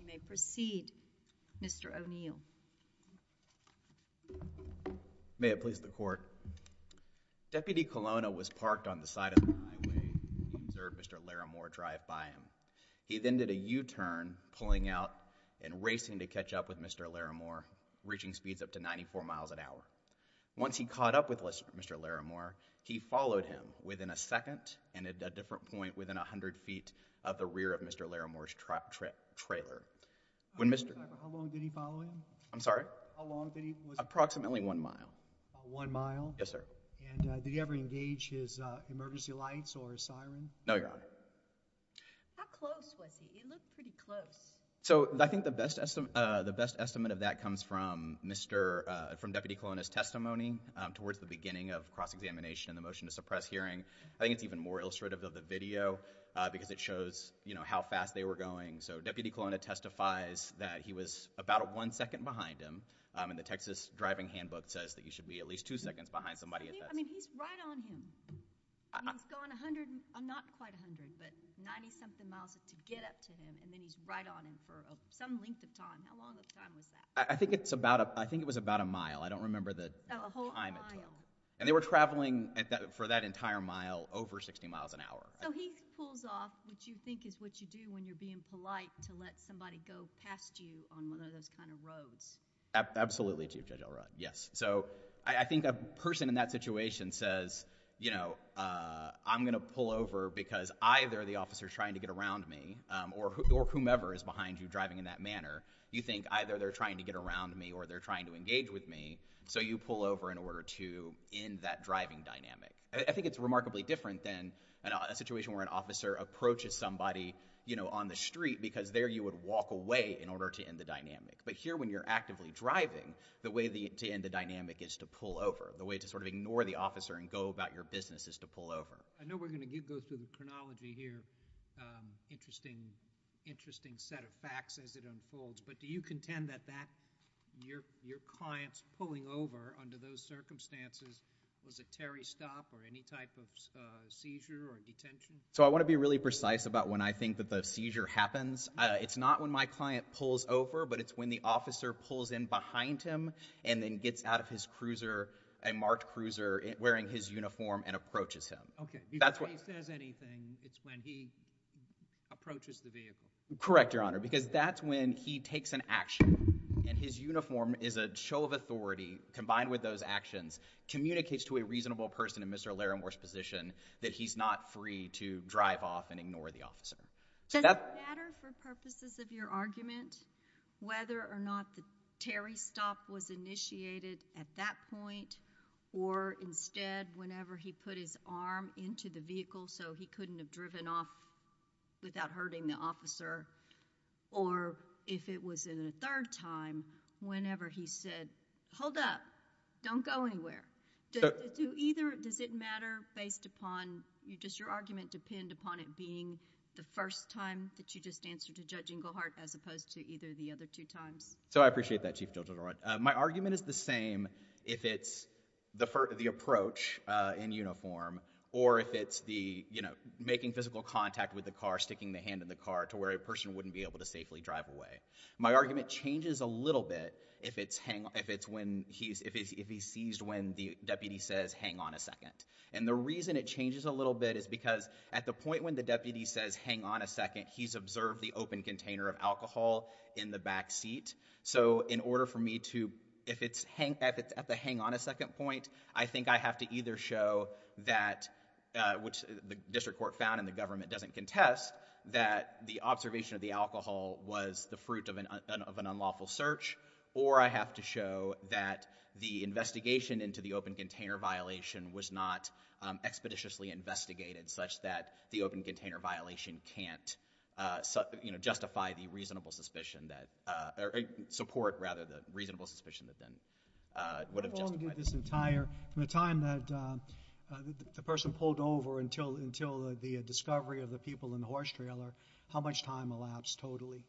You may proceed Mr. O'Neill. May it please the court, Deputy Colonna was parked on the side of the highway and observed Mr. Larremore drive by him. He then did a U-turn pulling out and racing to catch up with Mr. Larremore, reaching speeds up to 94 miles an hour. Once he caught up with Mr. Larremore, he followed him within a second point within 100 feet of the rear of Mr. Larremore's trailer. How long did he follow him? I'm sorry? Approximately one mile. One mile? Yes sir. Did he ever engage his emergency lights or his siren? No Your Honor. How close was he? He looked pretty close. So I think the best estimate of that comes from Deputy Colonna's testimony towards the beginning of cross-examination and the motion to suppress hearing. I think it's even more illustrative of the video because it shows, you know, how fast they were going. So Deputy Colonna testifies that he was about one second behind him and the Texas driving handbook says that he should be at least two seconds behind somebody at this. I mean he's right on him. I mean he's gone 100, not quite 100, but 90 something miles to get up to him and then he's right on him for some length of time. How long of a time was that? I think it's about, I think it was about a mile. I don't remember the time it took. Oh, a whole mile. And they were traveling for that entire mile over 60 miles an hour. So he pulls off what you think is what you do when you're being polite to let somebody go past you on one of those kind of roads. Absolutely Chief Judge Elrod, yes. So I think a person in that situation says, you know, I'm going to pull over because either the officer's trying to get around me or whomever is behind you driving in that manner, you think either they're trying to get around me or they're trying to engage with me, so you pull over in order to end that driving dynamic. I think it's remarkably different than a situation where an officer approaches somebody on the street because there you would walk away in order to end the dynamic. But here when you're actively driving, the way to end the dynamic is to pull over. The way to sort of ignore the officer and go about your business is to pull over. I know we're going to go through the chronology here, interesting set of facts as it unfolds, but do you contend that your client's pulling over under those circumstances, was it Terry's stop or any type of seizure or detention? So I want to be really precise about when I think that the seizure happens. It's not when my client pulls over, but it's when the officer pulls in behind him and then gets out of his cruiser, a marked cruiser, wearing his uniform and approaches him. Okay. If he says anything, it's when he approaches the vehicle. Correct Your Honor, because that's when he takes an action and his uniform is a show of authority combined with those actions, communicates to a reasonable person in Mr. Larimore's position that he's not free to drive off and ignore the officer. Does it matter for purposes of your argument whether or not the Terry stop was initiated at that point or instead whenever he put his arm into the vehicle so he couldn't have driven off without hurting the officer or if it was in a third time whenever he said, hold up, don't go anywhere. Does it matter based upon, does your argument depend upon it being the first time that you just answered to Judge Inglehart as opposed to either the other two times? So I appreciate that Chief Judge. My argument is the same if it's the approach in uniform or if it's the, you know, making physical contact with the car, sticking the hand in the car to where a person wouldn't be able to safely drive away. My argument changes a little bit if it's when he's, if he's seized when the deputy says hang on a second. And the reason it changes a little bit is because at the point when the deputy says hang on a second, he's observed the open container of alcohol in the back seat. So in order for me to, if it's hang, if it's at the hang on a second point, I think I have to either show that uh, which the district court found and the government doesn't contest that the observation of the alcohol was the fruit of an unlawful search or I have to show that the investigation into the open container violation was not expeditiously investigated such that the open container didn't, uh, you know, justify the reasonable suspicion that, uh, or support rather the reasonable suspicion that then, uh, would have justified it. How long did this entire, from the time that, um, the person pulled over until, until the discovery of the people in the horse trailer, how much time elapsed totally,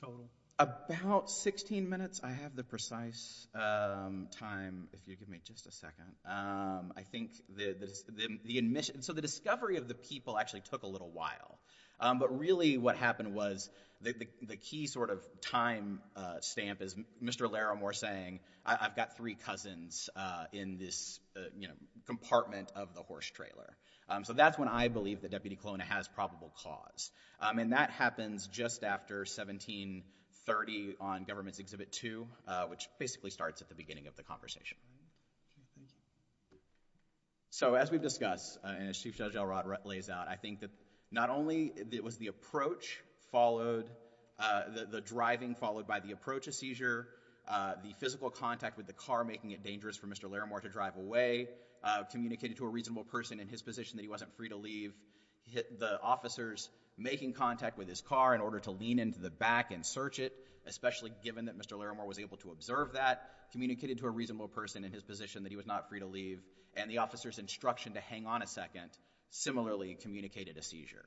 totally? About 16 minutes. I have the precise, um, time if you give me just a second. Um, I think the, the, the, the admission, so the discovery of the people actually took a little while. Um, but really what happened was the, the, the key sort of time, uh, stamp is Mr. Laramore saying I, I've got three cousins, uh, in this, uh, you know, compartment of the horse trailer. Um, so that's when I believe the deputy clone has probable cause. Um, and that happens just after 1730 on government's exhibit two, uh, which basically starts at the beginning of the conversation. So as we've discussed, uh, and as Chief Judge Elrod lays out, I think that not only was the approach followed, uh, the, the driving followed by the approach of seizure, uh, the physical contact with the car making it dangerous for Mr. Laramore to drive away, uh, communicated to a reasonable person in his position that he wasn't free to leave, hit the officers making contact with his car in order to lean into the back and search it, especially given that Mr. Laramore was able to observe that, communicated to a reasonable person in his position that he was not free to leave, and the officer's instruction to hang on a second similarly communicated a seizure.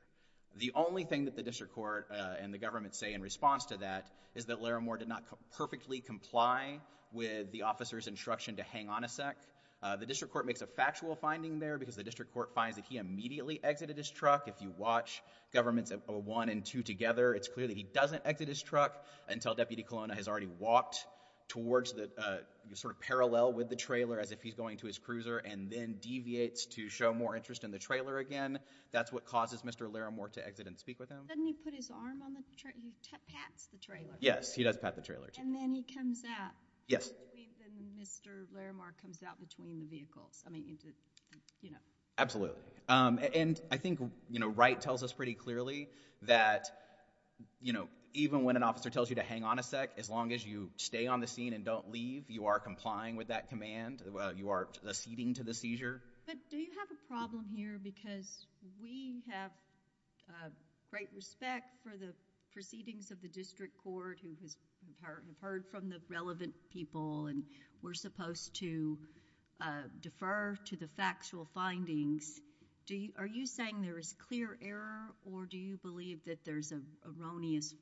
The only thing that the district court, uh, and the government say in response to that is that Laramore did not perfectly comply with the officer's instruction to hang on a sec. Uh, the district court makes a factual finding there because the district court finds that he immediately exited his truck. If you watch government's, uh, one and two together, it's clear that he doesn't exit his truck until Deputy Colonna has already walked towards the, uh, sort of parallel with the trailer as if he's going to his cruiser and then deviates to show more interest in the trailer again. That's what causes Mr. Laramore to exit and speak with him. Doesn't he put his arm on the trailer? He pats the trailer. Yes, he does pat the trailer. And then he comes out. Yes. And then Mr. Laramore comes out between the vehicles. I mean, you did, you know. Absolutely. Um, and I think, you know, Wright tells us pretty clearly that, you know, even when an officer tells you to hang on a sec, as long as you stay on the scene and don't leave, you are complying with that command. Uh, you are acceding to the seizure. But do you have a problem here because we have, uh, great respect for the proceedings of the district court who has heard, have heard from the relevant people and we're supposed to, uh, defer to the factual findings. Do you, are you saying there is clear error or do you believe that there's an erroneous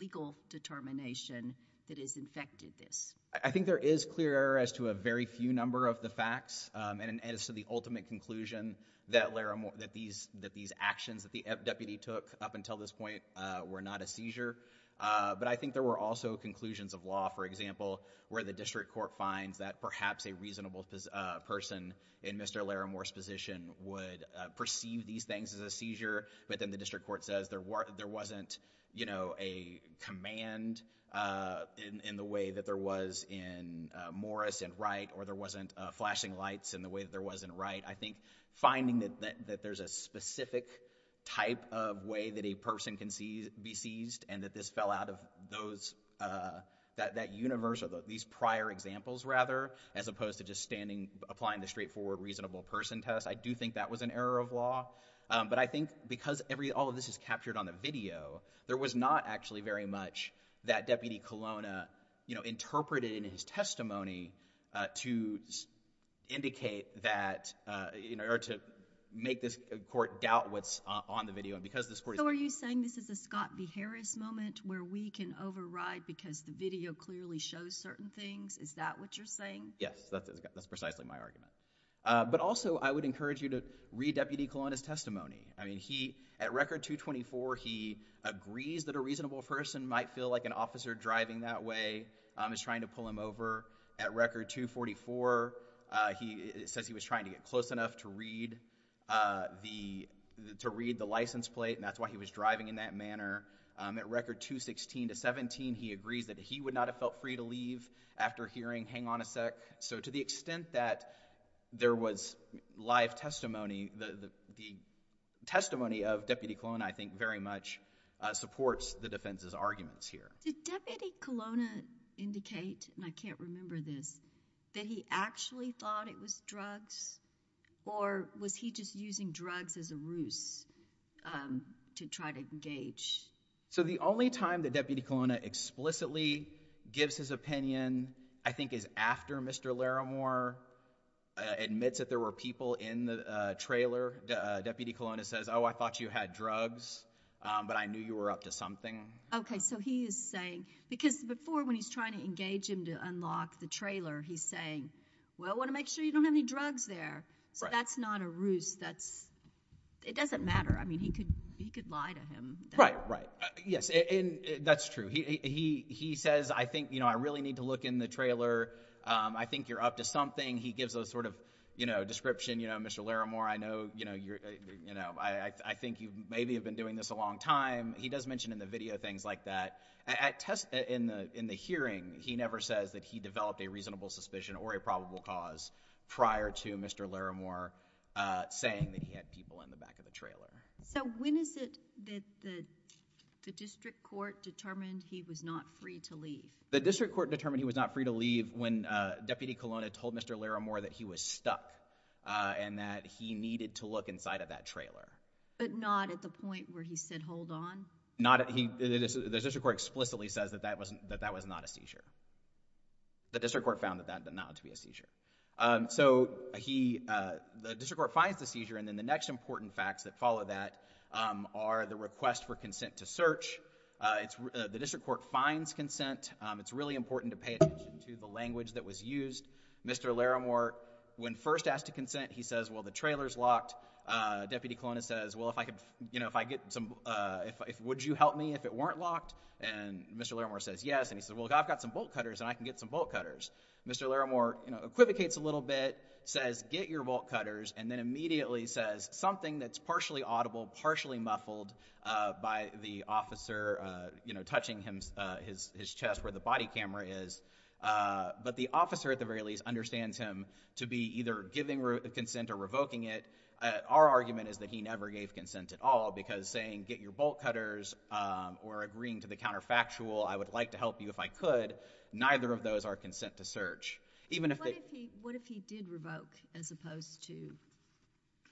legal determination that has infected this? I think there is clear error as to a very few number of the facts, um, and as to the ultimate conclusion that Laramore, that these, that these actions that the deputy took up until this point, uh, were not a seizure. Uh, but I think there were also conclusions of law, for example, where the district court finds that perhaps a reasonable, uh, person in Mr. Laramore's position would, uh, perceive these things as a seizure, but then the district court says there were, there wasn't, you know, a command, uh, in, in the way that there was in, uh, Morris and Wright or there wasn't, uh, flashing lights in the way that there was in Wright. I think finding that, that, that there's a specific type of way that a person can see, be seized and that this fell out of those, uh, that, that universe of these prior examples rather as opposed to just standing, applying the straightforward reasonable person test. I do think that was an error of law. Um, but I think because every, all of this is captured on the video, there was not actually very much that Deputy Colonna, you know, interpreted in his testimony, uh, to indicate that, uh, you know, or to make this court doubt what's on, on the video and because this court is. So, are you saying this is a Scott B. Harris moment where we can override because the video clearly shows certain things? Is that what you're saying? Yes, that's, that's precisely my argument. Uh, but also, I would encourage you to read Deputy Colonna's testimony. I mean, he, at Record 224, he agrees that a reasonable person might feel like an officer driving that way, um, is trying to pull him over. At Record 244, uh, he, it says he was trying to get close enough to read, uh, the, to read the license plate and that's why he was driving in that manner. Um, at Record 216 to 17, he agrees that he would not have felt free to leave after hearing, hang on a sec. So, to the extent that there was live testimony, the, the, the testimony of Deputy Colonna, I think very much, uh, supports the defense's arguments here. Did Deputy Colonna indicate, and I can't remember this, that he actually thought it was drugs, or was he just using drugs as a ruse, um, to try to engage? So, the only time that Deputy Colonna explicitly gives his opinion, I think, is after Mr. Laramore, uh, admits that there were people in the, uh, trailer. Uh, Deputy Colonna says, oh, I thought you had drugs, um, but I knew you were up to something. Okay. So, he is saying, because before when he's trying to engage him to unlock the trailer, he's saying, well, I want to make sure you don't have any drugs there. Right. So, that's not a ruse. That's, it doesn't matter. I mean, he could, he could lie to him. Right, right. Uh, yes, and, and that's true. He, he, he says, I think, you know, I really need to look in the trailer. Um, I think you're up to something. He gives a sort of, you know, description, you know, Mr. Laramore, I know, you know, you're, you know, I, I, I think you maybe have been doing this a long time. He does mention in the video things like that. At test, in the, in the hearing, he never says that he developed a reasonable suspicion or a probable cause prior to Mr. Laramore, uh, saying that he had people in the back of the trailer. So, when is it that the, the, the district court determined he was not free to leave? The district court determined he was not free to leave when, uh, Deputy Colonna told Mr. Laramore that he was stuck, uh, and that he needed to look inside of that trailer. But not at the point where he said, hold on? Not at, he, the, the district court explicitly says that that wasn't, that that was not a seizure. The district court found that, that not to be a seizure. Um, so, he, uh, the district court finds the seizure and then the next important facts that follow that, um, are the request for consent to search. Uh, it's, uh, the district court finds consent. Um, it's really important to pay attention to the language that was used. Mr. Laramore, when first asked to consent, he says, well, the trailer's locked. Uh, Deputy Colonna says, well, if I could, you know, if I get some, uh, if, if, would you help me if it weren't locked? And Mr. Laramore says, yes. And he says, well, I've got some bolt cutters and I can get some bolt cutters. Mr. Laramore, you know, equivocates a little bit, says, get your bolt cutters, and then immediately says something that's partially audible, partially muffled, uh, by the officer, uh, you know, touching him, uh, his, his chest where the body camera is. Uh, but the officer, at the very least, understands him to be either giving consent or revoking it. Uh, our argument is that he never gave consent at all because saying, get your bolt cutters, um, or agreeing to the counterfactual, I would like to help you if I could, neither of those are consent to search. Even if they... What if he, what if he did revoke as opposed to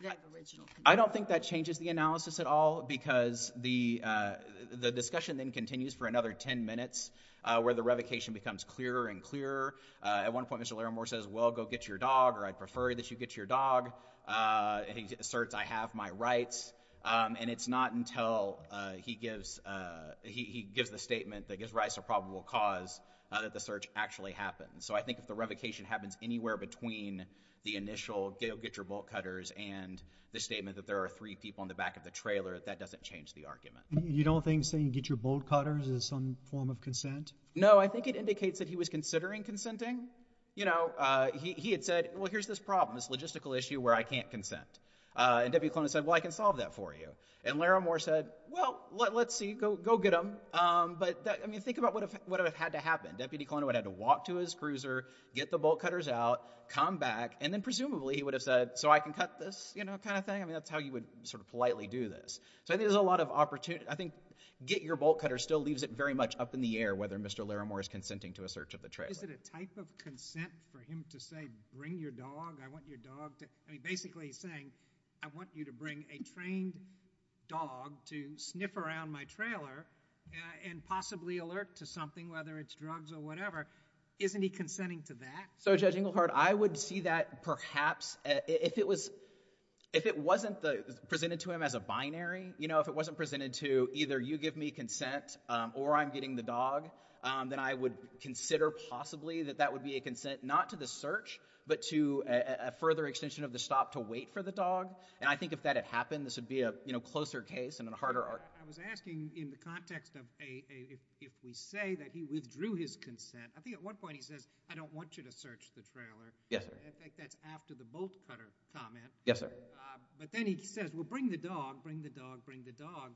that original... I don't think that changes the analysis at all because the, uh, the discussion then continues for another 10 minutes, uh, where the revocation becomes clearer and clearer. Uh, at one point Mr. Laramore says, well, go get your dog, or I'd prefer that you get your dog. Uh, and he asserts, I have my rights. Um, and it's not until, uh, he gives, uh, he, he gives the statement that he has rights to a probable cause, uh, that the search actually happens. So I think if the revocation happens anywhere between the initial, go get your bolt cutters and the statement that there are three people in the back of the trailer, that doesn't change the argument. You don't think saying get your bolt cutters is some form of consent? No, I think it indicates that he was considering consenting. You know, uh, he, he had said, well, here's this problem, this logistical issue where I can't consent. Uh, and Deputy Colon had said, well, I can solve that for you. And Laramore said, well, let, let's see, go, go get him. Um, but that, I mean, think about what if, what if it had to happen. Deputy Colon would have to walk to his cruiser, get the bolt cutters out, come back, and then presumably he would have said, so I can cut this, you know, kind of thing. I mean, that's how you would sort of politely do this. So I think there's a lot of opportunity. I think get your bolt cutter still leaves it very much up in the air whether Mr. Laramore is consenting to a search of the trailer. Is it a type of consent for him to say, bring your dog? I want your dog to, I mean, basically he's saying, I want you to bring a trained dog to sniff around my trailer, uh, and possibly alert to something, whether it's drugs or whatever. Isn't he consenting to that? So Judge Engelhardt, I would see that perhaps, uh, if it was, if it wasn't the, presented to him as a binary, you know, if it wasn't presented to either you give me consent, um, or I'm getting the dog, um, then I would consider possibly that that would be a consent not to the search, but to a, a further extension of the stop to wait for the dog. And I think if that had happened, this would be a, you know, closer case and a harder argument. I was asking in the context of a, a, if, if we say that he withdrew his consent, I think at one point he says, I don't want you to search the trailer. Yes, sir. I think that's after the bolt cutter comment. Yes, sir. Uh, but then he says, well, bring the dog, bring the dog, bring the dog.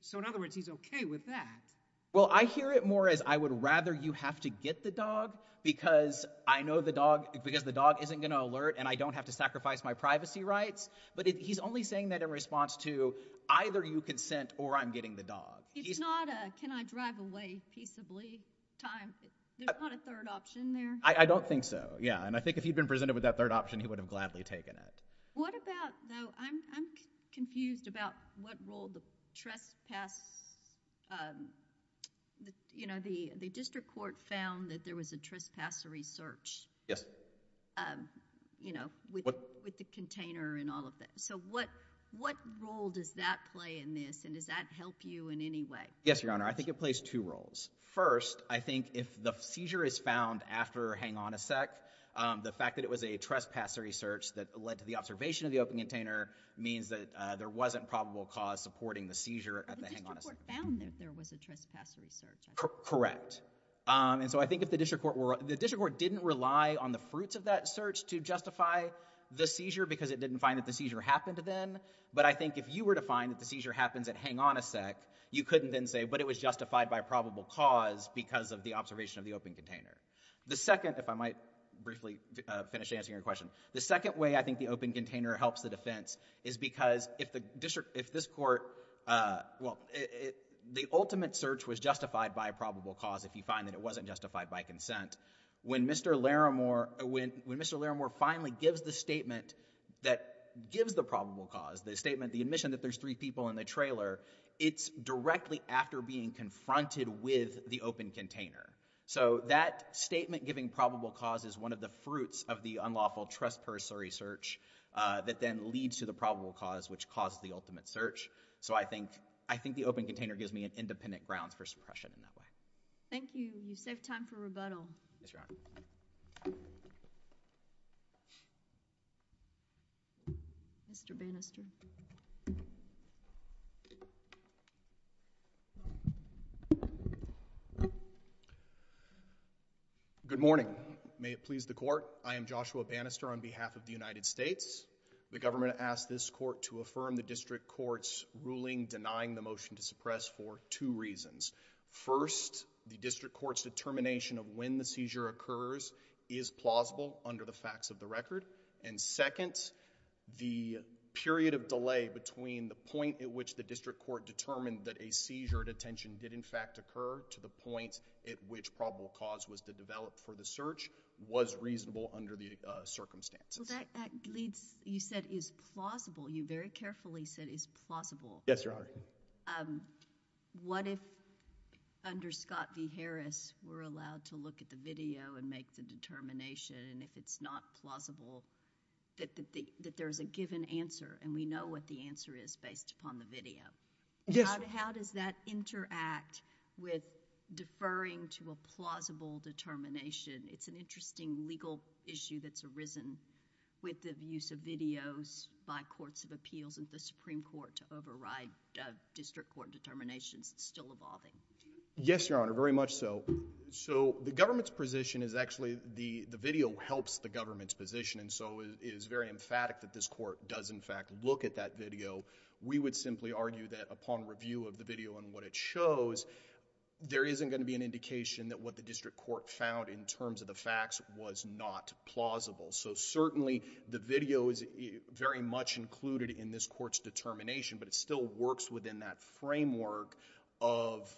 So in other words, he's okay with that. Well, I hear it more as I would rather you have to get the dog because I know the dog, because the dog isn't going to alert and I don't have to sacrifice my privacy rights. But he's only saying that in response to either you consent or I'm getting the dog. It's not a, can I drive away peaceably time? There's not a third option there. I don't think so. Yeah. And I think if he'd been presented with that third option, he would have gladly taken it. What about though, I'm, I'm confused about what role the trespass, um, the, you know, the, the district court found that there was a trespassery search, um, you know, with, with the container and all of that. So what, what role does that play in this and does that help you in any way? Yes, Your Honor. I think it plays two roles. First, I think if the seizure is found after hang on a sec, um, the fact that it was a trespassery search that led to the observation of the open container means that, uh, there wasn't probable cause supporting the seizure at the hang on a sec. The district court found that there was a trespassery search. Correct. Um, and so I think if the district court were, the district court didn't rely on the fruits of that search to justify the seizure because it didn't find that the seizure happened then. But I think if you were to find that the seizure happens at hang on a sec, you couldn't then say, but it was justified by probable cause because of the observation of the open container. The second, if I might briefly finish answering your question, the second way I think the open container helps the defense is because if the district, if this court, uh, well, it, it, the ultimate search was justified by probable cause if you find that it wasn't justified by consent. When Mr. Laramore, when Mr. Laramore finally gives the statement that gives the probable cause, the statement, the admission that there's three people in the trailer, it's directly after being confronted with the open container. So that statement giving probable cause is one of the fruits of the unlawful trespassery search, uh, that then leads to the probable cause which caused the ultimate search. So I think, I think the open container gives me an independent grounds for suppression in that way. Thank you. You saved time for rebuttal. Yes, Your Honor. Mr. Bannister. Good morning. May it please the court. I am Joshua Bannister on behalf of the United States. The government asked this court to affirm the district court's ruling denying the motion to suppress for two reasons. First, the district court's determination of when the seizure occurs is plausible under the facts of the record. And second, the period of delay between the point at which the district court determined that a seizure detention did in fact occur to the point at which probable cause was to develop for the search was reasonable under the, uh, circumstances. Well, that, that leads, you said is plausible. You very carefully said is plausible. Yes, Your Honor. But, um, what if under Scott v. Harris, we're allowed to look at the video and make the determination and if it's not plausible, that, that the, that there's a given answer and we know what the answer is based upon the video? Yes, Your Honor. How, how does that interact with deferring to a plausible determination? It's an interesting legal issue that's arisen with the use of videos by courts of appeals and the Supreme Court to override, uh, district court determinations still evolving. Yes, Your Honor. Very much so. So the government's position is actually the, the video helps the government's position and so it is very emphatic that this court does in fact look at that video. We would simply argue that upon review of the video and what it shows, there isn't going to be an indication that what the district court found in terms of the facts was not plausible. So certainly the video is very much included in this court's determination, but it still works within that framework of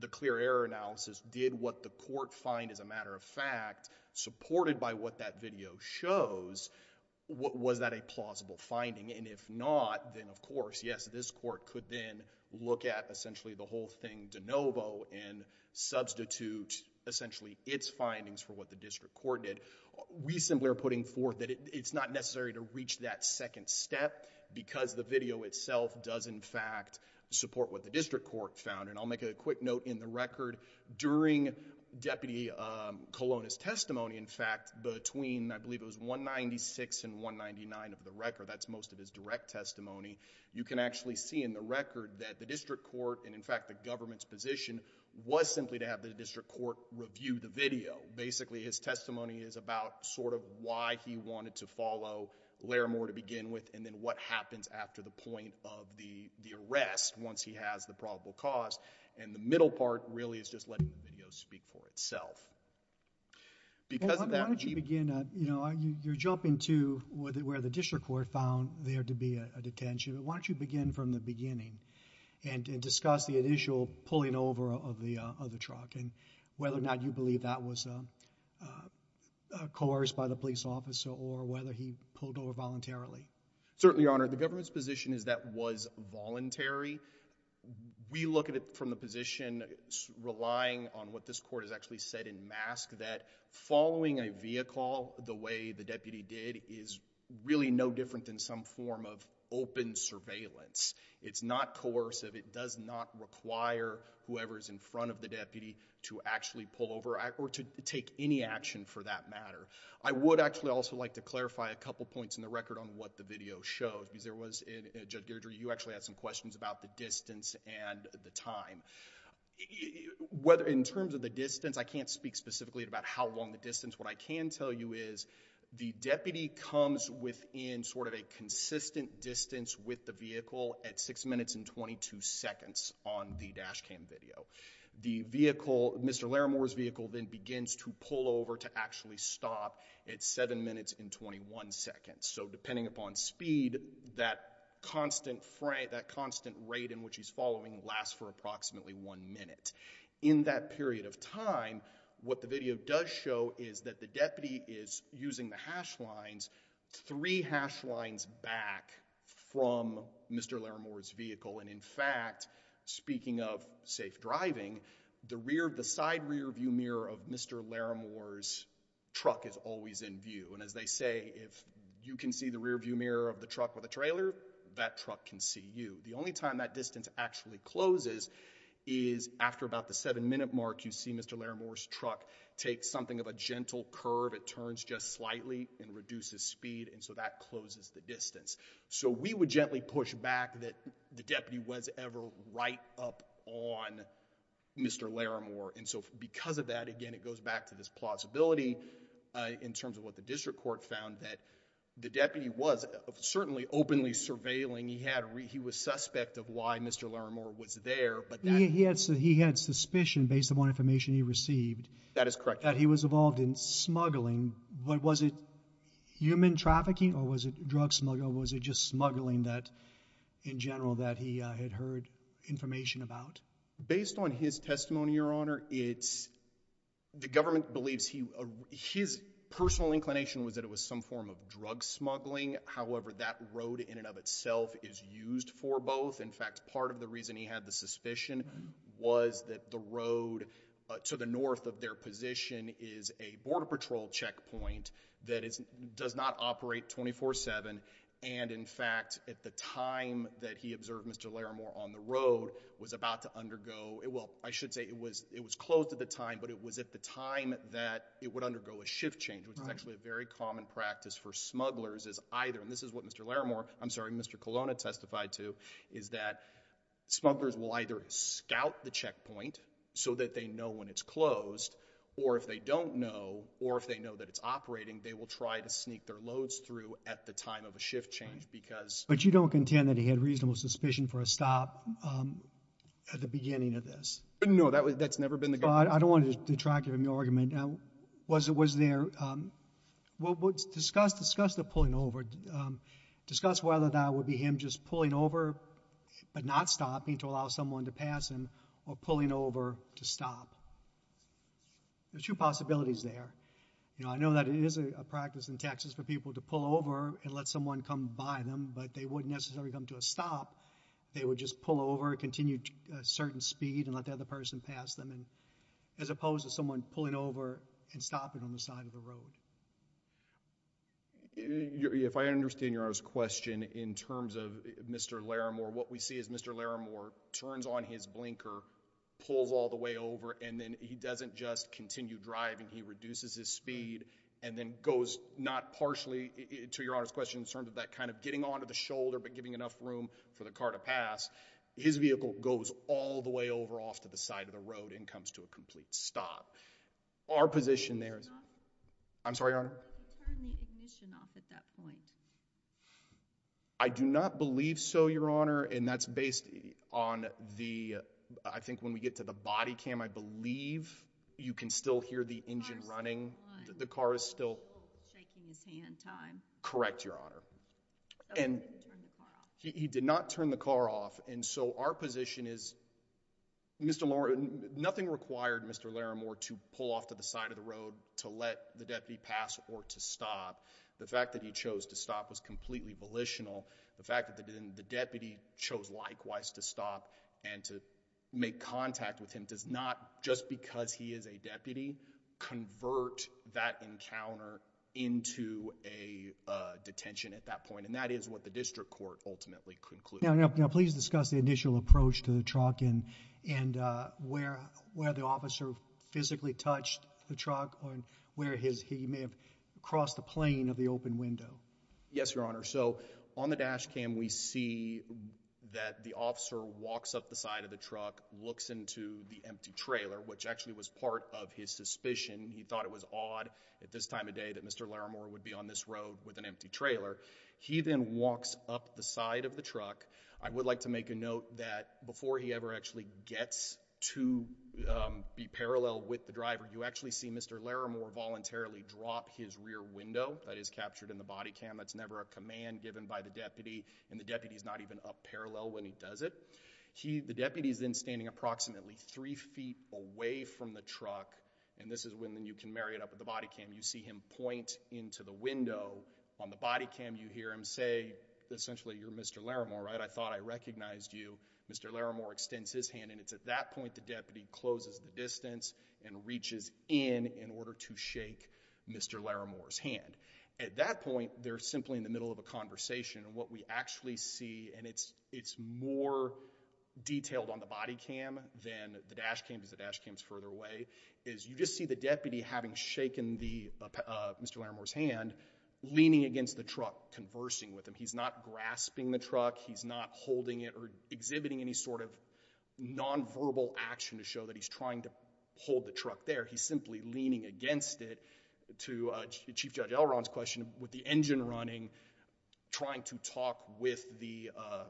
the clear error analysis. Did what the court find as a matter of fact, supported by what that video shows, what, was that a plausible finding? And if not, then of course, yes, this court could then look at essentially the whole thing de novo and substitute essentially its findings for what the district court did. We simply are putting forth that it, it's not necessary to reach that second step because the video itself does in fact support what the district court found. And I'll make a quick note in the record during deputy, um, Colonna's testimony. In fact, between, I believe it was one 96 and one 99 of the record, that's most of his direct testimony. You can actually see in the record that the district court and in fact the government's position was simply to have the district court review the video. And basically his testimony is about sort of why he wanted to follow Larimore to begin with and then what happens after the point of the, the arrest once he has the probable cause. And the middle part really is just letting the video speak for itself because of that. Why don't you begin, uh, you know, you're jumping to where the, where the district court found there to be a detention. Why don't you begin from the beginning and, and discuss the initial pulling over of the, uh, of the truck and whether or not you believe that was, um, uh, uh, coerced by the police officer or whether he pulled over voluntarily? Certainly honored the government's position is that was voluntary. We look at it from the position relying on what this court has actually said in mask that following a vehicle the way the deputy did is really no different than some form of open surveillance. It's not coercive. It does not require whoever's in front of the deputy to actually pull over or to take any action for that matter. I would actually also like to clarify a couple points in the record on what the video shows because there was a judge, you actually had some questions about the distance and the time, whether in terms of the distance, I can't speak specifically about how long the distance, what I can tell you is the deputy comes within sort of a consistent distance with the vehicle at six minutes and 22 seconds on the dash cam video. The vehicle, Mr. Laramore's vehicle then begins to pull over to actually stop at seven minutes and 21 seconds. So depending upon speed, that constant Frank, that constant rate in which he's following lasts for approximately one minute in that period of time. What the video does show is that the deputy is using the hash lines, three hash lines back from Mr. Laramore's vehicle. And in fact, speaking of safe driving, the rear of the side rear view mirror of Mr. Laramore's truck is always in view. And as they say, if you can see the rear view mirror of the truck with a trailer, that truck can see you. The only time that distance actually closes is after about the seven minute mark. You see Mr. Laramore's truck takes something of a gentle curve. It turns just slightly and reduces speed and so that closes the distance. So we would gently push back that the deputy was ever right up on Mr. Laramore. And so because of that, again, it goes back to this plausibility in terms of what the district court found that the deputy was certainly openly surveilling. He had, he was suspect of why Mr. Laramore was there. He had, he had suspicion based upon information he received. That is correct. That he was involved in smuggling. Was it human trafficking or was it drug smuggling or was it just smuggling that in general that he had heard information about? Based on his testimony, Your Honor, it's, the government believes he, his personal inclination was that it was some form of drug smuggling. However, that road in and of itself is used for both. In fact, part of the reason he had the suspicion was that the road to the north of their position is a border patrol checkpoint that is, does not operate 24 seven. And in fact, at the time that he observed Mr. Laramore on the road was about to undergo it. Well, I should say it was, it was closed at the time, but it was at the time that it would undergo a shift change, which is actually a very common practice for smugglers is either. And this is what Mr. Laramore, I'm sorry, Mr. Colonna testified to is that smugglers will either scout the checkpoint so that they know when it's closed or if they don't know or if they know that it's operating, they will try to sneak their loads through at the time of a shift change because. But you don't contend that he had reasonable suspicion for a stop at the beginning of this? No, that was, that's never been the case. I don't want to detract from your argument. Now, was it, was there, well, discuss, discuss the pulling over, discuss whether that would be him just pulling over, but not stopping to allow someone to pass him or pulling over to stop. There's two possibilities there. You know, I know that it is a practice in Texas for people to pull over and let someone come by them, but they wouldn't necessarily come to a stop. They would just pull over and continue to a certain speed and let the other person pass them. And as opposed to someone pulling over and stopping on the side of the road. If I understand Your Honor's question in terms of Mr. Laramore, what we see is Mr. Laramore turns on his blinker, pulls all the way over, and then he doesn't just continue driving. He reduces his speed and then goes not partially, to Your Honor's question, in terms of that kind of getting onto the shoulder but giving enough room for the car to pass. His vehicle goes all the way over off to the side of the road and comes to a complete stop. Our position there is. I'm sorry, Your Honor. He turned the ignition off at that point. I do not believe so, Your Honor, and that's based on the, I think when we get to the body cam, I believe you can still hear the engine running. The car is still shaking his hand. Time. Correct, Your Honor. But he didn't turn the car off. And so our position is, Mr. Laramore, nothing required Mr. Laramore to pull off to the side of the road to let the deputy pass or to stop. The fact that he chose to stop was completely volitional. The fact that the deputy chose likewise to stop and to make contact with him does not, just because he is a deputy, convert that encounter into a detention at that point, and that is what the district court ultimately concluded. Now, now, please discuss the initial approach to the truck and, and, uh, where, where the officer physically touched the truck on where his, he may have crossed the plane of the open window. Yes, Your Honor. So on the dash cam, we see that the officer walks up the side of the truck, looks into the empty trailer, which actually was part of his suspicion. He thought it was odd at this time of day that Mr. Laramore would be on this road with an empty trailer. He then walks up the side of the truck. I would like to make a note that before he ever actually gets to, um, be parallel with the driver, you actually see Mr. Laramore voluntarily drop his rear window that is captured in the body cam. That's never a command given by the deputy and the deputy is not even up parallel when he does it. He, the deputy is then standing approximately three feet away from the truck, and this is when you can marry it up with the body cam. You see him point into the window on the body cam. You hear him say essentially you're Mr. Laramore, right? I thought I recognized you. Mr. Laramore extends his hand and it's at that point the deputy closes the distance and reaches in in order to shake Mr. Laramore's hand. At that point, they're simply in the middle of a conversation and what we actually see and it's, it's more detailed on the body cam than the dash cam because the dash cam is further away, is you just see the deputy having shaken the, uh, Mr. Laramore's hand, leaning against the truck, conversing with him. He's not grasping the truck. He's not holding it or exhibiting any sort of nonverbal action to show that he's trying to hold the truck there. He's simply leaning against it to, uh, Chief Judge Elron's question, with the engine running, trying to talk with the, uh,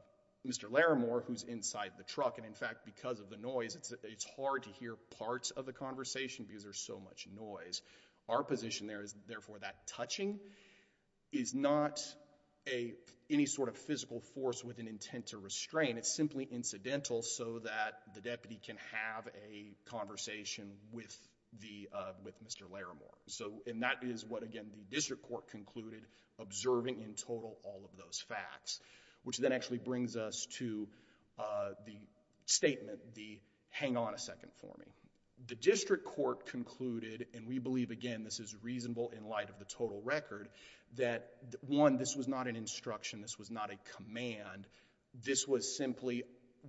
Mr. Laramore who's inside the truck and in fact, because of the noise, it's, it's hard to hear parts of the conversation because there's so much noise. Our position there is therefore that touching is not a, any sort of physical force with an intent to restrain. It's simply incidental so that the deputy can have a conversation with the, uh, with Mr. Laramore. So, and that is what again the district court concluded, observing in total all of those facts, which then actually brings us to, uh, the statement, the hang on a second for me. The district court concluded, and we believe again, this is reasonable in light of the total record, that one, this was not an instruction. This was not a command. This was simply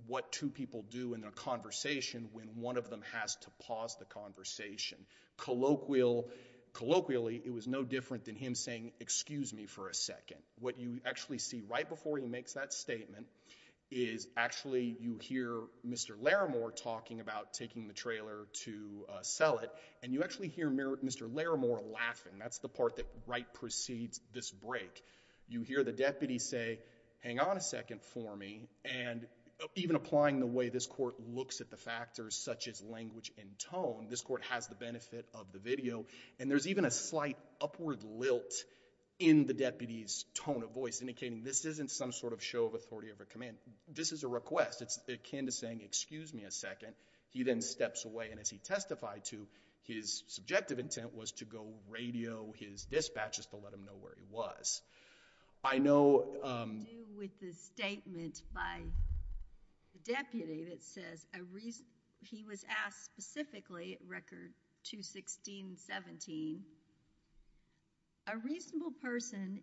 what two people do in a conversation when one of them has to pause the conversation. Colloquial, colloquially, it was no different than him saying excuse me for a second. What you actually see right before he makes that statement is actually you hear Mr. Laramore talking about taking the trailer to, uh, sell it and you actually hear Mr. Laramore laughing. That's the part that right precedes this break. You hear the deputy say hang on a second for me and even applying the way this court looks at the factors such as language and tone, this court has the benefit of the video and there's even a slight upward lilt in the deputy's tone of voice indicating this isn't some sort of show of authority of a command. This is a request. It's akin to saying excuse me a second. He then steps away and as he testified to, his subjective intent was to go radio his dispatches to let him know where he was. I know, um. What do you do with the statement by the deputy that says a reason, he was asked specifically to say record 216.17, a reasonable person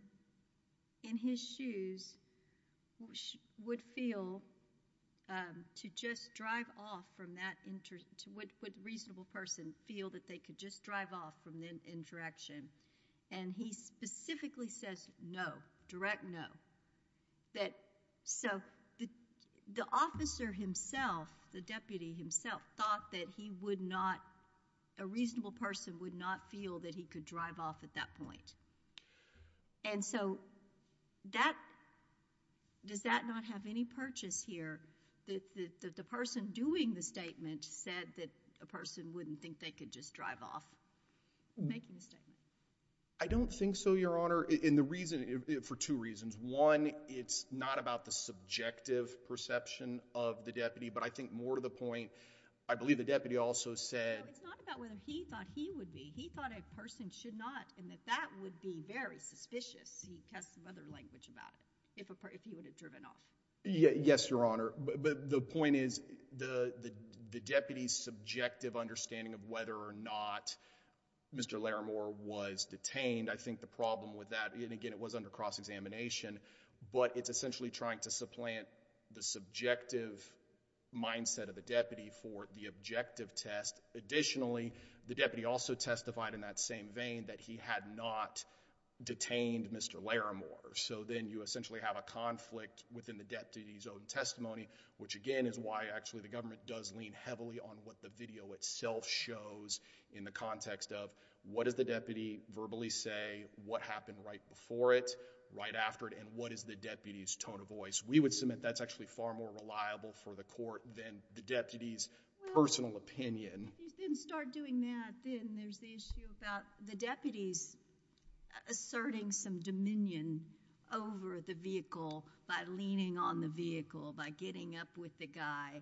in his shoes would feel, um, to just drive off from that, would a reasonable person feel that they could just drive off from that interaction and he specifically says no, direct no. That, so, the officer himself, the deputy himself thought that he would not, a reasonable person would not feel that he could drive off at that point. And so, that, does that not have any purchase here that the person doing the statement said that a person wouldn't think they could just drive off from making a statement? I don't think so, Your Honor, in the reason, for two reasons. One, it's not about the subjective perception of the deputy, but I think more to the point, I believe the deputy also said. No, it's not about whether he thought he would be. He thought a person should not, and that that would be very suspicious. He has some other language about it, if he would have driven off. Yes, Your Honor, but the point is, the deputy's subjective understanding of whether or not Mr. Larimore was detained, I think the problem with that, and again, it was under cross-examination, but it's essentially trying to supplant the subjective mindset of the deputy for the objective test. Additionally, the deputy also testified in that same vein that he had not detained Mr. Larimore. So, then you essentially have a conflict within the deputy's own testimony, which again, is why actually the government does lean heavily on what the video itself shows in the context of what does the deputy verbally say, what happened right before it, right after it, and what is the deputy's tone of voice. We would submit that's actually far more reliable for the court than the deputy's personal opinion. Well, you didn't start doing that then. There's the issue about the deputy's asserting some dominion over the vehicle by leaning on the vehicle, by getting up with the guy.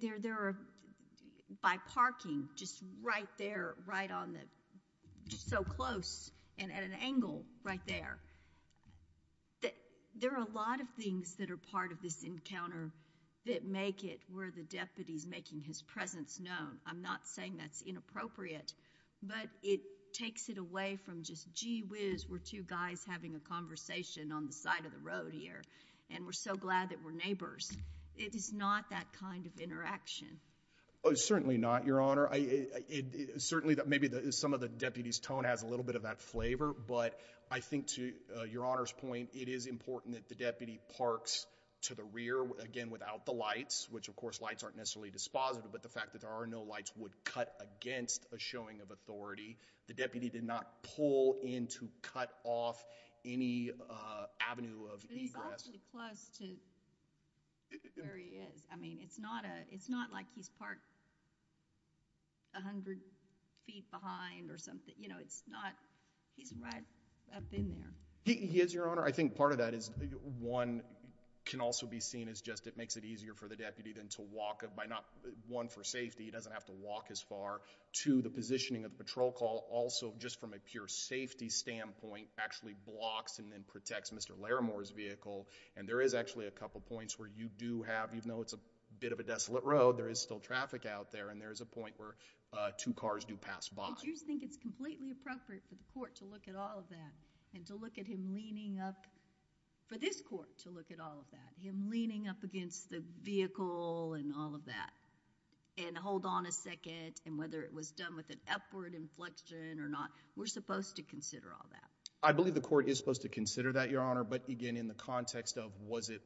They're by parking just right there, right on the, just so close and at an angle right there. There are a lot of things that are part of this encounter that make it where the deputy's making his presence known. I'm not saying that's inappropriate, but it takes it away from just, gee whiz, we're two guys having a conversation on the side of the road here, and we're so glad that we're neighbors. It is not that kind of interaction. Certainly not, Your Honor. Certainly, maybe some of the deputy's tone has a little bit of that flavor, but I think to Your Honor's point, it is important that the deputy parks to the rear, again, without the lights, which of course, lights aren't necessarily dispositive, but the fact that there are no lights would cut against a showing of authority. The deputy did not pull in to cut off any avenue of egress. But he's actually close to where he is. I mean, it's not like he's parked a hundred feet behind or something. You know, it's not, he's right up in there. He is, Your Honor. I think part of that is, one, can also be seen as just it makes it easier for the deputy than to walk, one, for safety. He doesn't have to walk as far. Two, the positioning of the patrol car also, just from a pure safety standpoint, actually blocks and then protects Mr. Larimore's vehicle, and there is actually a couple points where you do have, even though it's a bit of a desolate road, there is still traffic out there, and there is a point where two cars do pass by. Do you think it's completely appropriate for the court to look at all of that and to look at him leaning up, for this court to look at all of that, him leaning up against the vehicle and all of that, and hold on a second, and whether it was done with an upward inflection or not? We're supposed to consider all that. I believe the court is supposed to consider that, Your Honor, but again, in the context of was it,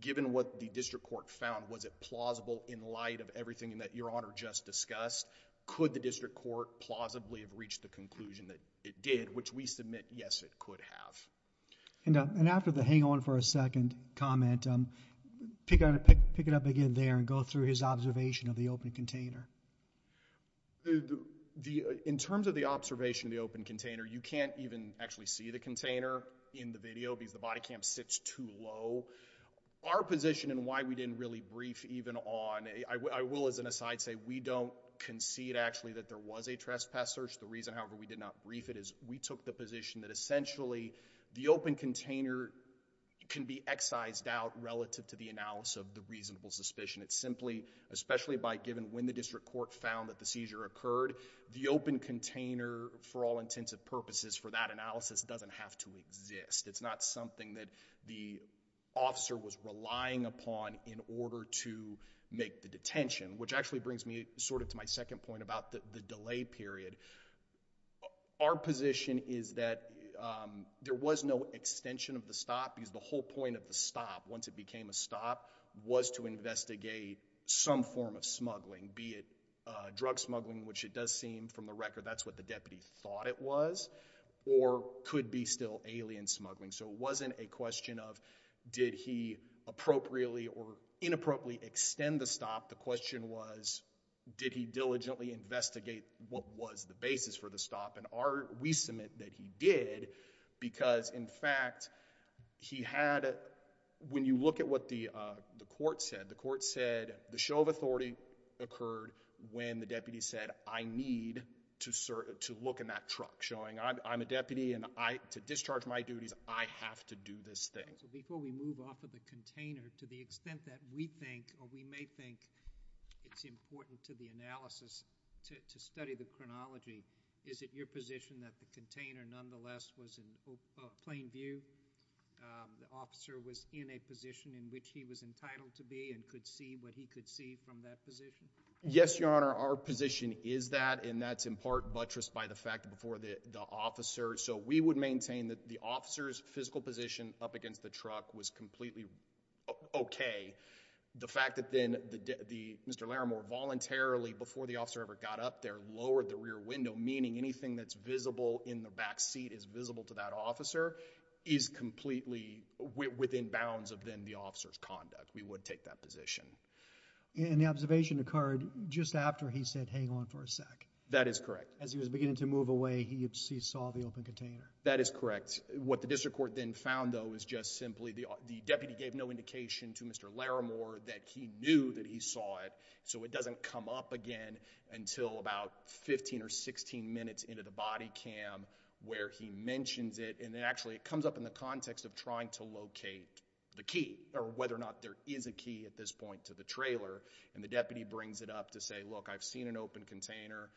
given what the district court found, was it plausible in light of everything that Your Honor just discussed? Could the district court plausibly have reached the conclusion that it did, which we submit, yes, it could have. And after the hang on for a second comment, pick it up again there and go through his observation of the open container. In terms of the observation of the open container, you can't even actually see the container in the video because the body cam sits too low. Our position and why we didn't really brief even on, I will as an aside say, we don't concede actually that there was a trespass search. The reason, however, we did not brief it is we took the position that essentially the open container can be excised out relative to the analysis of the reasonable suspicion. It's simply, especially by given when the district court found that the seizure occurred, the open container for all intents and purposes for that analysis doesn't have to exist. It's not something that the officer was relying upon in order to make the detention, which actually brings me sort of to my second point about the delay period. Our position is that there was no extension of the stop because the whole point of the stop, once it became a stop, was to investigate some form of smuggling, be it drug smuggling, which it does seem from the record that's what the deputy thought it was, or could be still alien smuggling. So it wasn't a question of did he appropriately or inappropriately extend the stop. The question was did he diligently investigate what was the basis for the stop, and we submit that he did because in fact he had, when you look at what the court said, the court said the show of authority occurred when the deputy said I need to look in that truck, showing I'm a deputy and to discharge my duties, I have to do this thing. So before we move off of the container, to the extent that we think or we may think it's important to the analysis to study the chronology, is it your position that the container nonetheless was in plain view, the officer was in a position in which he was entitled to be and could see what he could see from that position? Yes, Your Honor, our position is that, and that's in part buttressed by the fact that for the officer, so we would maintain that the officer's physical position up against the truck was completely okay. The fact that then Mr. Laramore voluntarily, before the officer ever got up there, lowered the rear window, meaning anything that's visible in the back seat is visible to that officer is completely within bounds of then the officer's conduct. We would take that position. And the observation occurred just after he said hang on for a sec? That is correct. As he was beginning to move away, he saw the open container? That is correct. What the district court then found though is just simply the deputy gave no indication to Mr. Laramore that he knew that he saw it, so it doesn't come up again until about 15 or 16 minutes into the body cam where he mentions it, and then actually it comes up in the context of trying to locate the key, or whether or not there is a key at this point to the trailer, and the deputy brings it up to say look, I've seen an open container,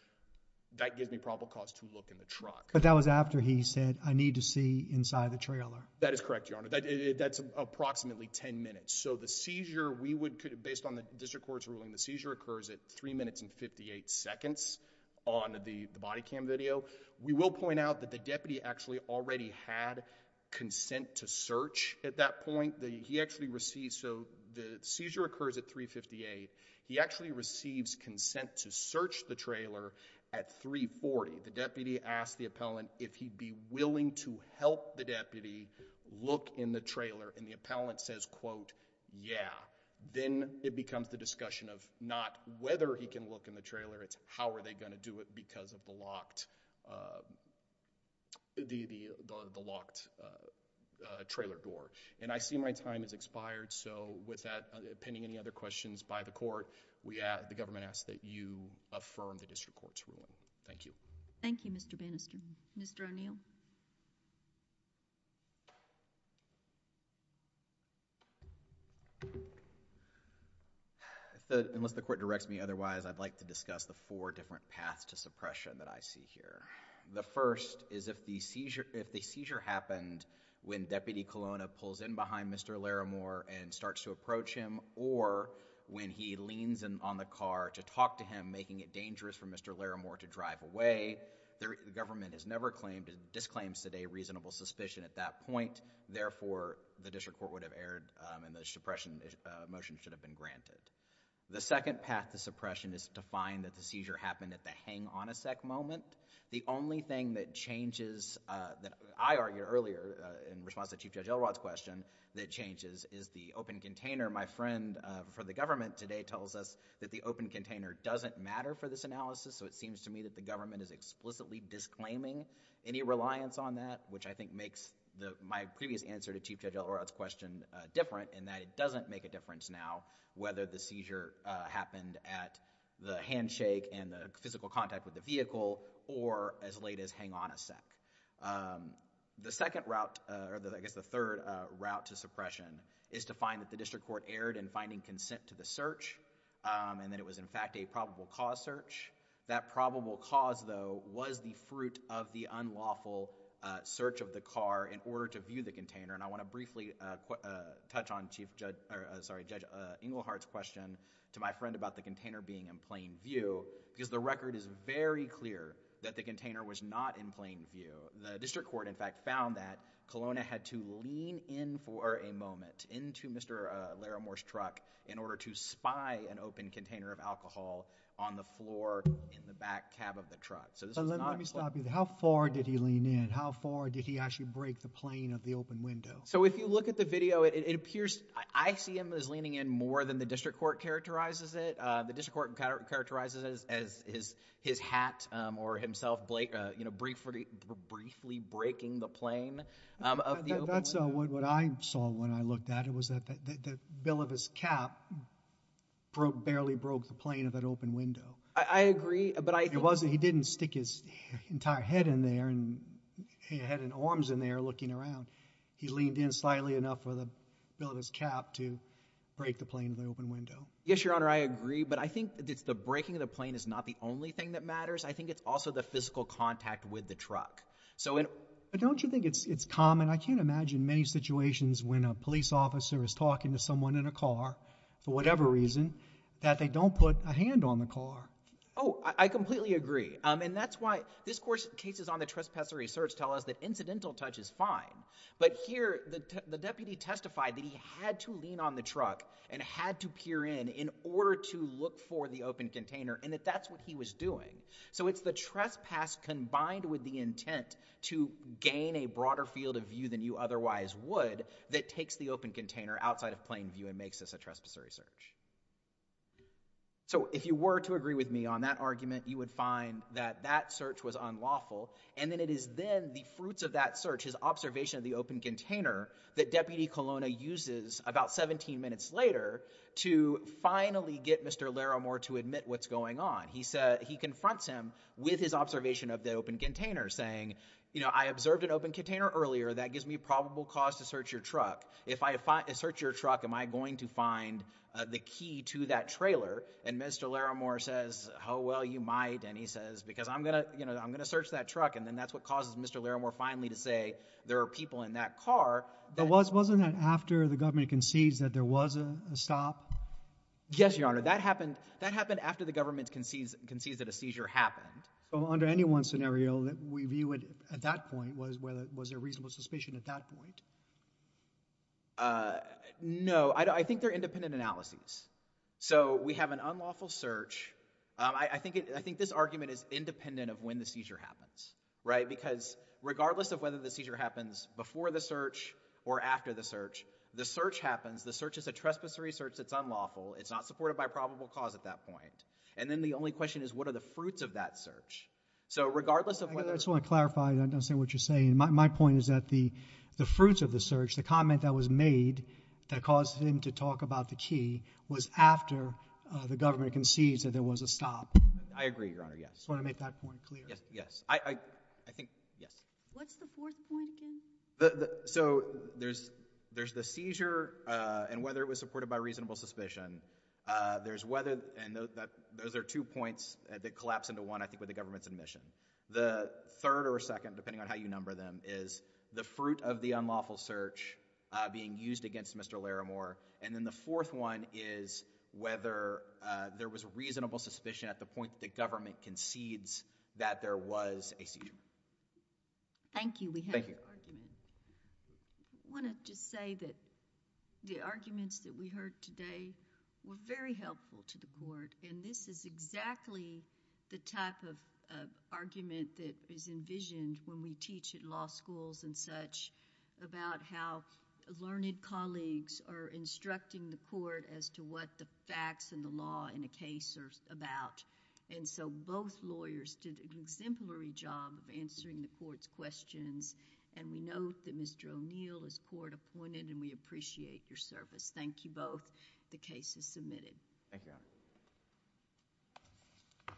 that gives me probable cause to look in the truck. But that was after he said I need to see inside the trailer? That is correct, Your Honor. That's approximately 10 minutes. So the seizure, we would, based on the district court's ruling, the seizure occurs at 3 minutes and 58 seconds on the body cam video. We will point out that the deputy actually already had consent to search at that point. He actually received, so the seizure occurs at 3 minutes and 58 seconds. He actually receives consent to search the trailer at 3 minutes and 40 seconds. The deputy asks the appellant if he'd be willing to help the deputy look in the trailer, and the appellant says, quote, yeah. Then it becomes the discussion of not whether he can look in the trailer, it's how are they going to do it because of the locked trailer door. And I see my time has expired, so with that, pending any other questions by the court, we ask, the government asks that you affirm the district court's ruling. Thank you. Thank you, Mr. Bannister. Mr. O'Neill? Unless the court directs me otherwise, I'd like to discuss the four different paths to suppression that I see here. The first is if the seizure happened when Deputy Colonna pulls in behind Mr. Laramore and starts to approach him, or when he leans on the car to talk to him, making it dangerous for Mr. Laramore to drive away, the government has never claimed, disclaims that a reasonable suspicion at that point, therefore, the district court would have erred and the suppression motion should have been granted. The second path to suppression is to find that the seizure happened at the hang on a sec moment. The only thing that changes that I argue earlier in response to Chief Judge Elrod's question that changes is the open container. My friend for the government today tells us that the open container doesn't matter for this analysis, so it seems to me that the government is explicitly disclaiming any reliance on that, which I think makes my previous answer to Chief Judge Elrod's question different in that it doesn't make a difference now whether the seizure happened at the handshake and the physical contact with the vehicle, or as late as hang on a sec. The second route, or I guess the third route to suppression, is to find that the district court erred in finding consent to the search, and that it was in fact a probable cause search. That probable cause, though, was the fruit of the unlawful search of the car in order to view the container. I want to briefly touch on Judge Englehardt's question to my friend about the container being in plain view, because the record is very clear that the container was not in plain view. The district court, in fact, found that Kelowna had to lean in for a moment into Mr. Laramore's truck in order to spy an open container of alcohol on the floor in the back cab of the truck. So this is not... Let me stop you there. How far did he lean in? How far did he actually break the plane of the open window? So if you look at the video, it appears ICM is leaning in more than the district court characterizes it. The district court characterizes it as his hat or himself briefly breaking the plane of the open window. That's what I saw when I looked at it, was that the bill of his cap barely broke the plane of that open window. I agree, but I... It wasn't. He didn't stick his entire head in there and head and arms in there looking around. He leaned in slightly enough for the bill of his cap to break the plane of the open window. Yes, Your Honor, I agree, but I think it's the breaking of the plane is not the only thing that matters. I think it's also the physical contact with the truck. So in... But don't you think it's common? I can't imagine many situations when a police officer is talking to someone in a car, for whatever reason, that they don't put a hand on the car. Oh, I completely agree, and that's why... This court's cases on the trespasser research tell us that incidental touch is fine, but here the deputy testified that he had to lean on the truck and had to peer in, in order to look for the open container, and that that's what he was doing. So it's the trespass combined with the intent to gain a broader field of view than you otherwise would that takes the open container outside of plain view and makes this a trespass research. So if you were to agree with me on that argument, you would find that that search was unlawful, and that it is then the fruits of that search, his observation of the open container, that Deputy Colonna uses about 17 minutes later to finally get Mr. Laramore to admit what's going on. He confronts him with his observation of the open container, saying, you know, I observed an open container earlier. That gives me probable cause to search your truck. If I search your truck, am I going to find the key to that trailer? And Mr. Laramore says, oh, well, you might, and he says, because I'm going to, you know, I'm going to search that truck, and then that's what causes Mr. Laramore finally to say there are people in that car. But wasn't that after the government concedes that there was a stop? Yes, Your Honor, that happened, that happened after the government concedes that a seizure happened. So under any one scenario that we view it at that point, was there reasonable suspicion at that point? Uh, no, I think they're independent analyses. So we have an unlawful search. I think this argument is independent of when the seizure happens, right, because regardless of whether the seizure happens before the search or after the search, the search happens. The search is a trespass research that's unlawful. It's not supported by probable cause at that point. And then the only question is, what are the fruits of that search? So regardless of whether... I just want to clarify, I don't understand what you're saying. My point is that the, the fruits of the search, the comment that was made that caused him to talk about the key, was after, uh, the government concedes that there was a stop. I agree, Your Honor, yes. Do you want to make that point clear? Yes, yes. I, I, I think, yes. What's the fourth point again? The, the, so there's, there's the seizure, uh, and whether it was supported by reasonable suspicion. Uh, there's whether, and those are two points that collapse into one, I think, with the government's admission. The third or second, depending on how you number them, is the fruit of the unlawful search, uh, being used against Mr. Laramore. And then the fourth one is whether, uh, there was reasonable suspicion at the point that the government concedes that there was a seizure. Thank you. We have your argument. Thank you. I want to just say that the arguments that we heard today were very helpful to the court. And this is exactly the type of, uh, argument that is envisioned when we teach at law schools and such about how learned colleagues are instructing the court as to what the facts and the law in a case are about. And so, both lawyers did an exemplary job of answering the court's questions. And we note that Mr. O'Neill is court-appointed and we appreciate your service. Thank you both. The case is submitted. Thank you.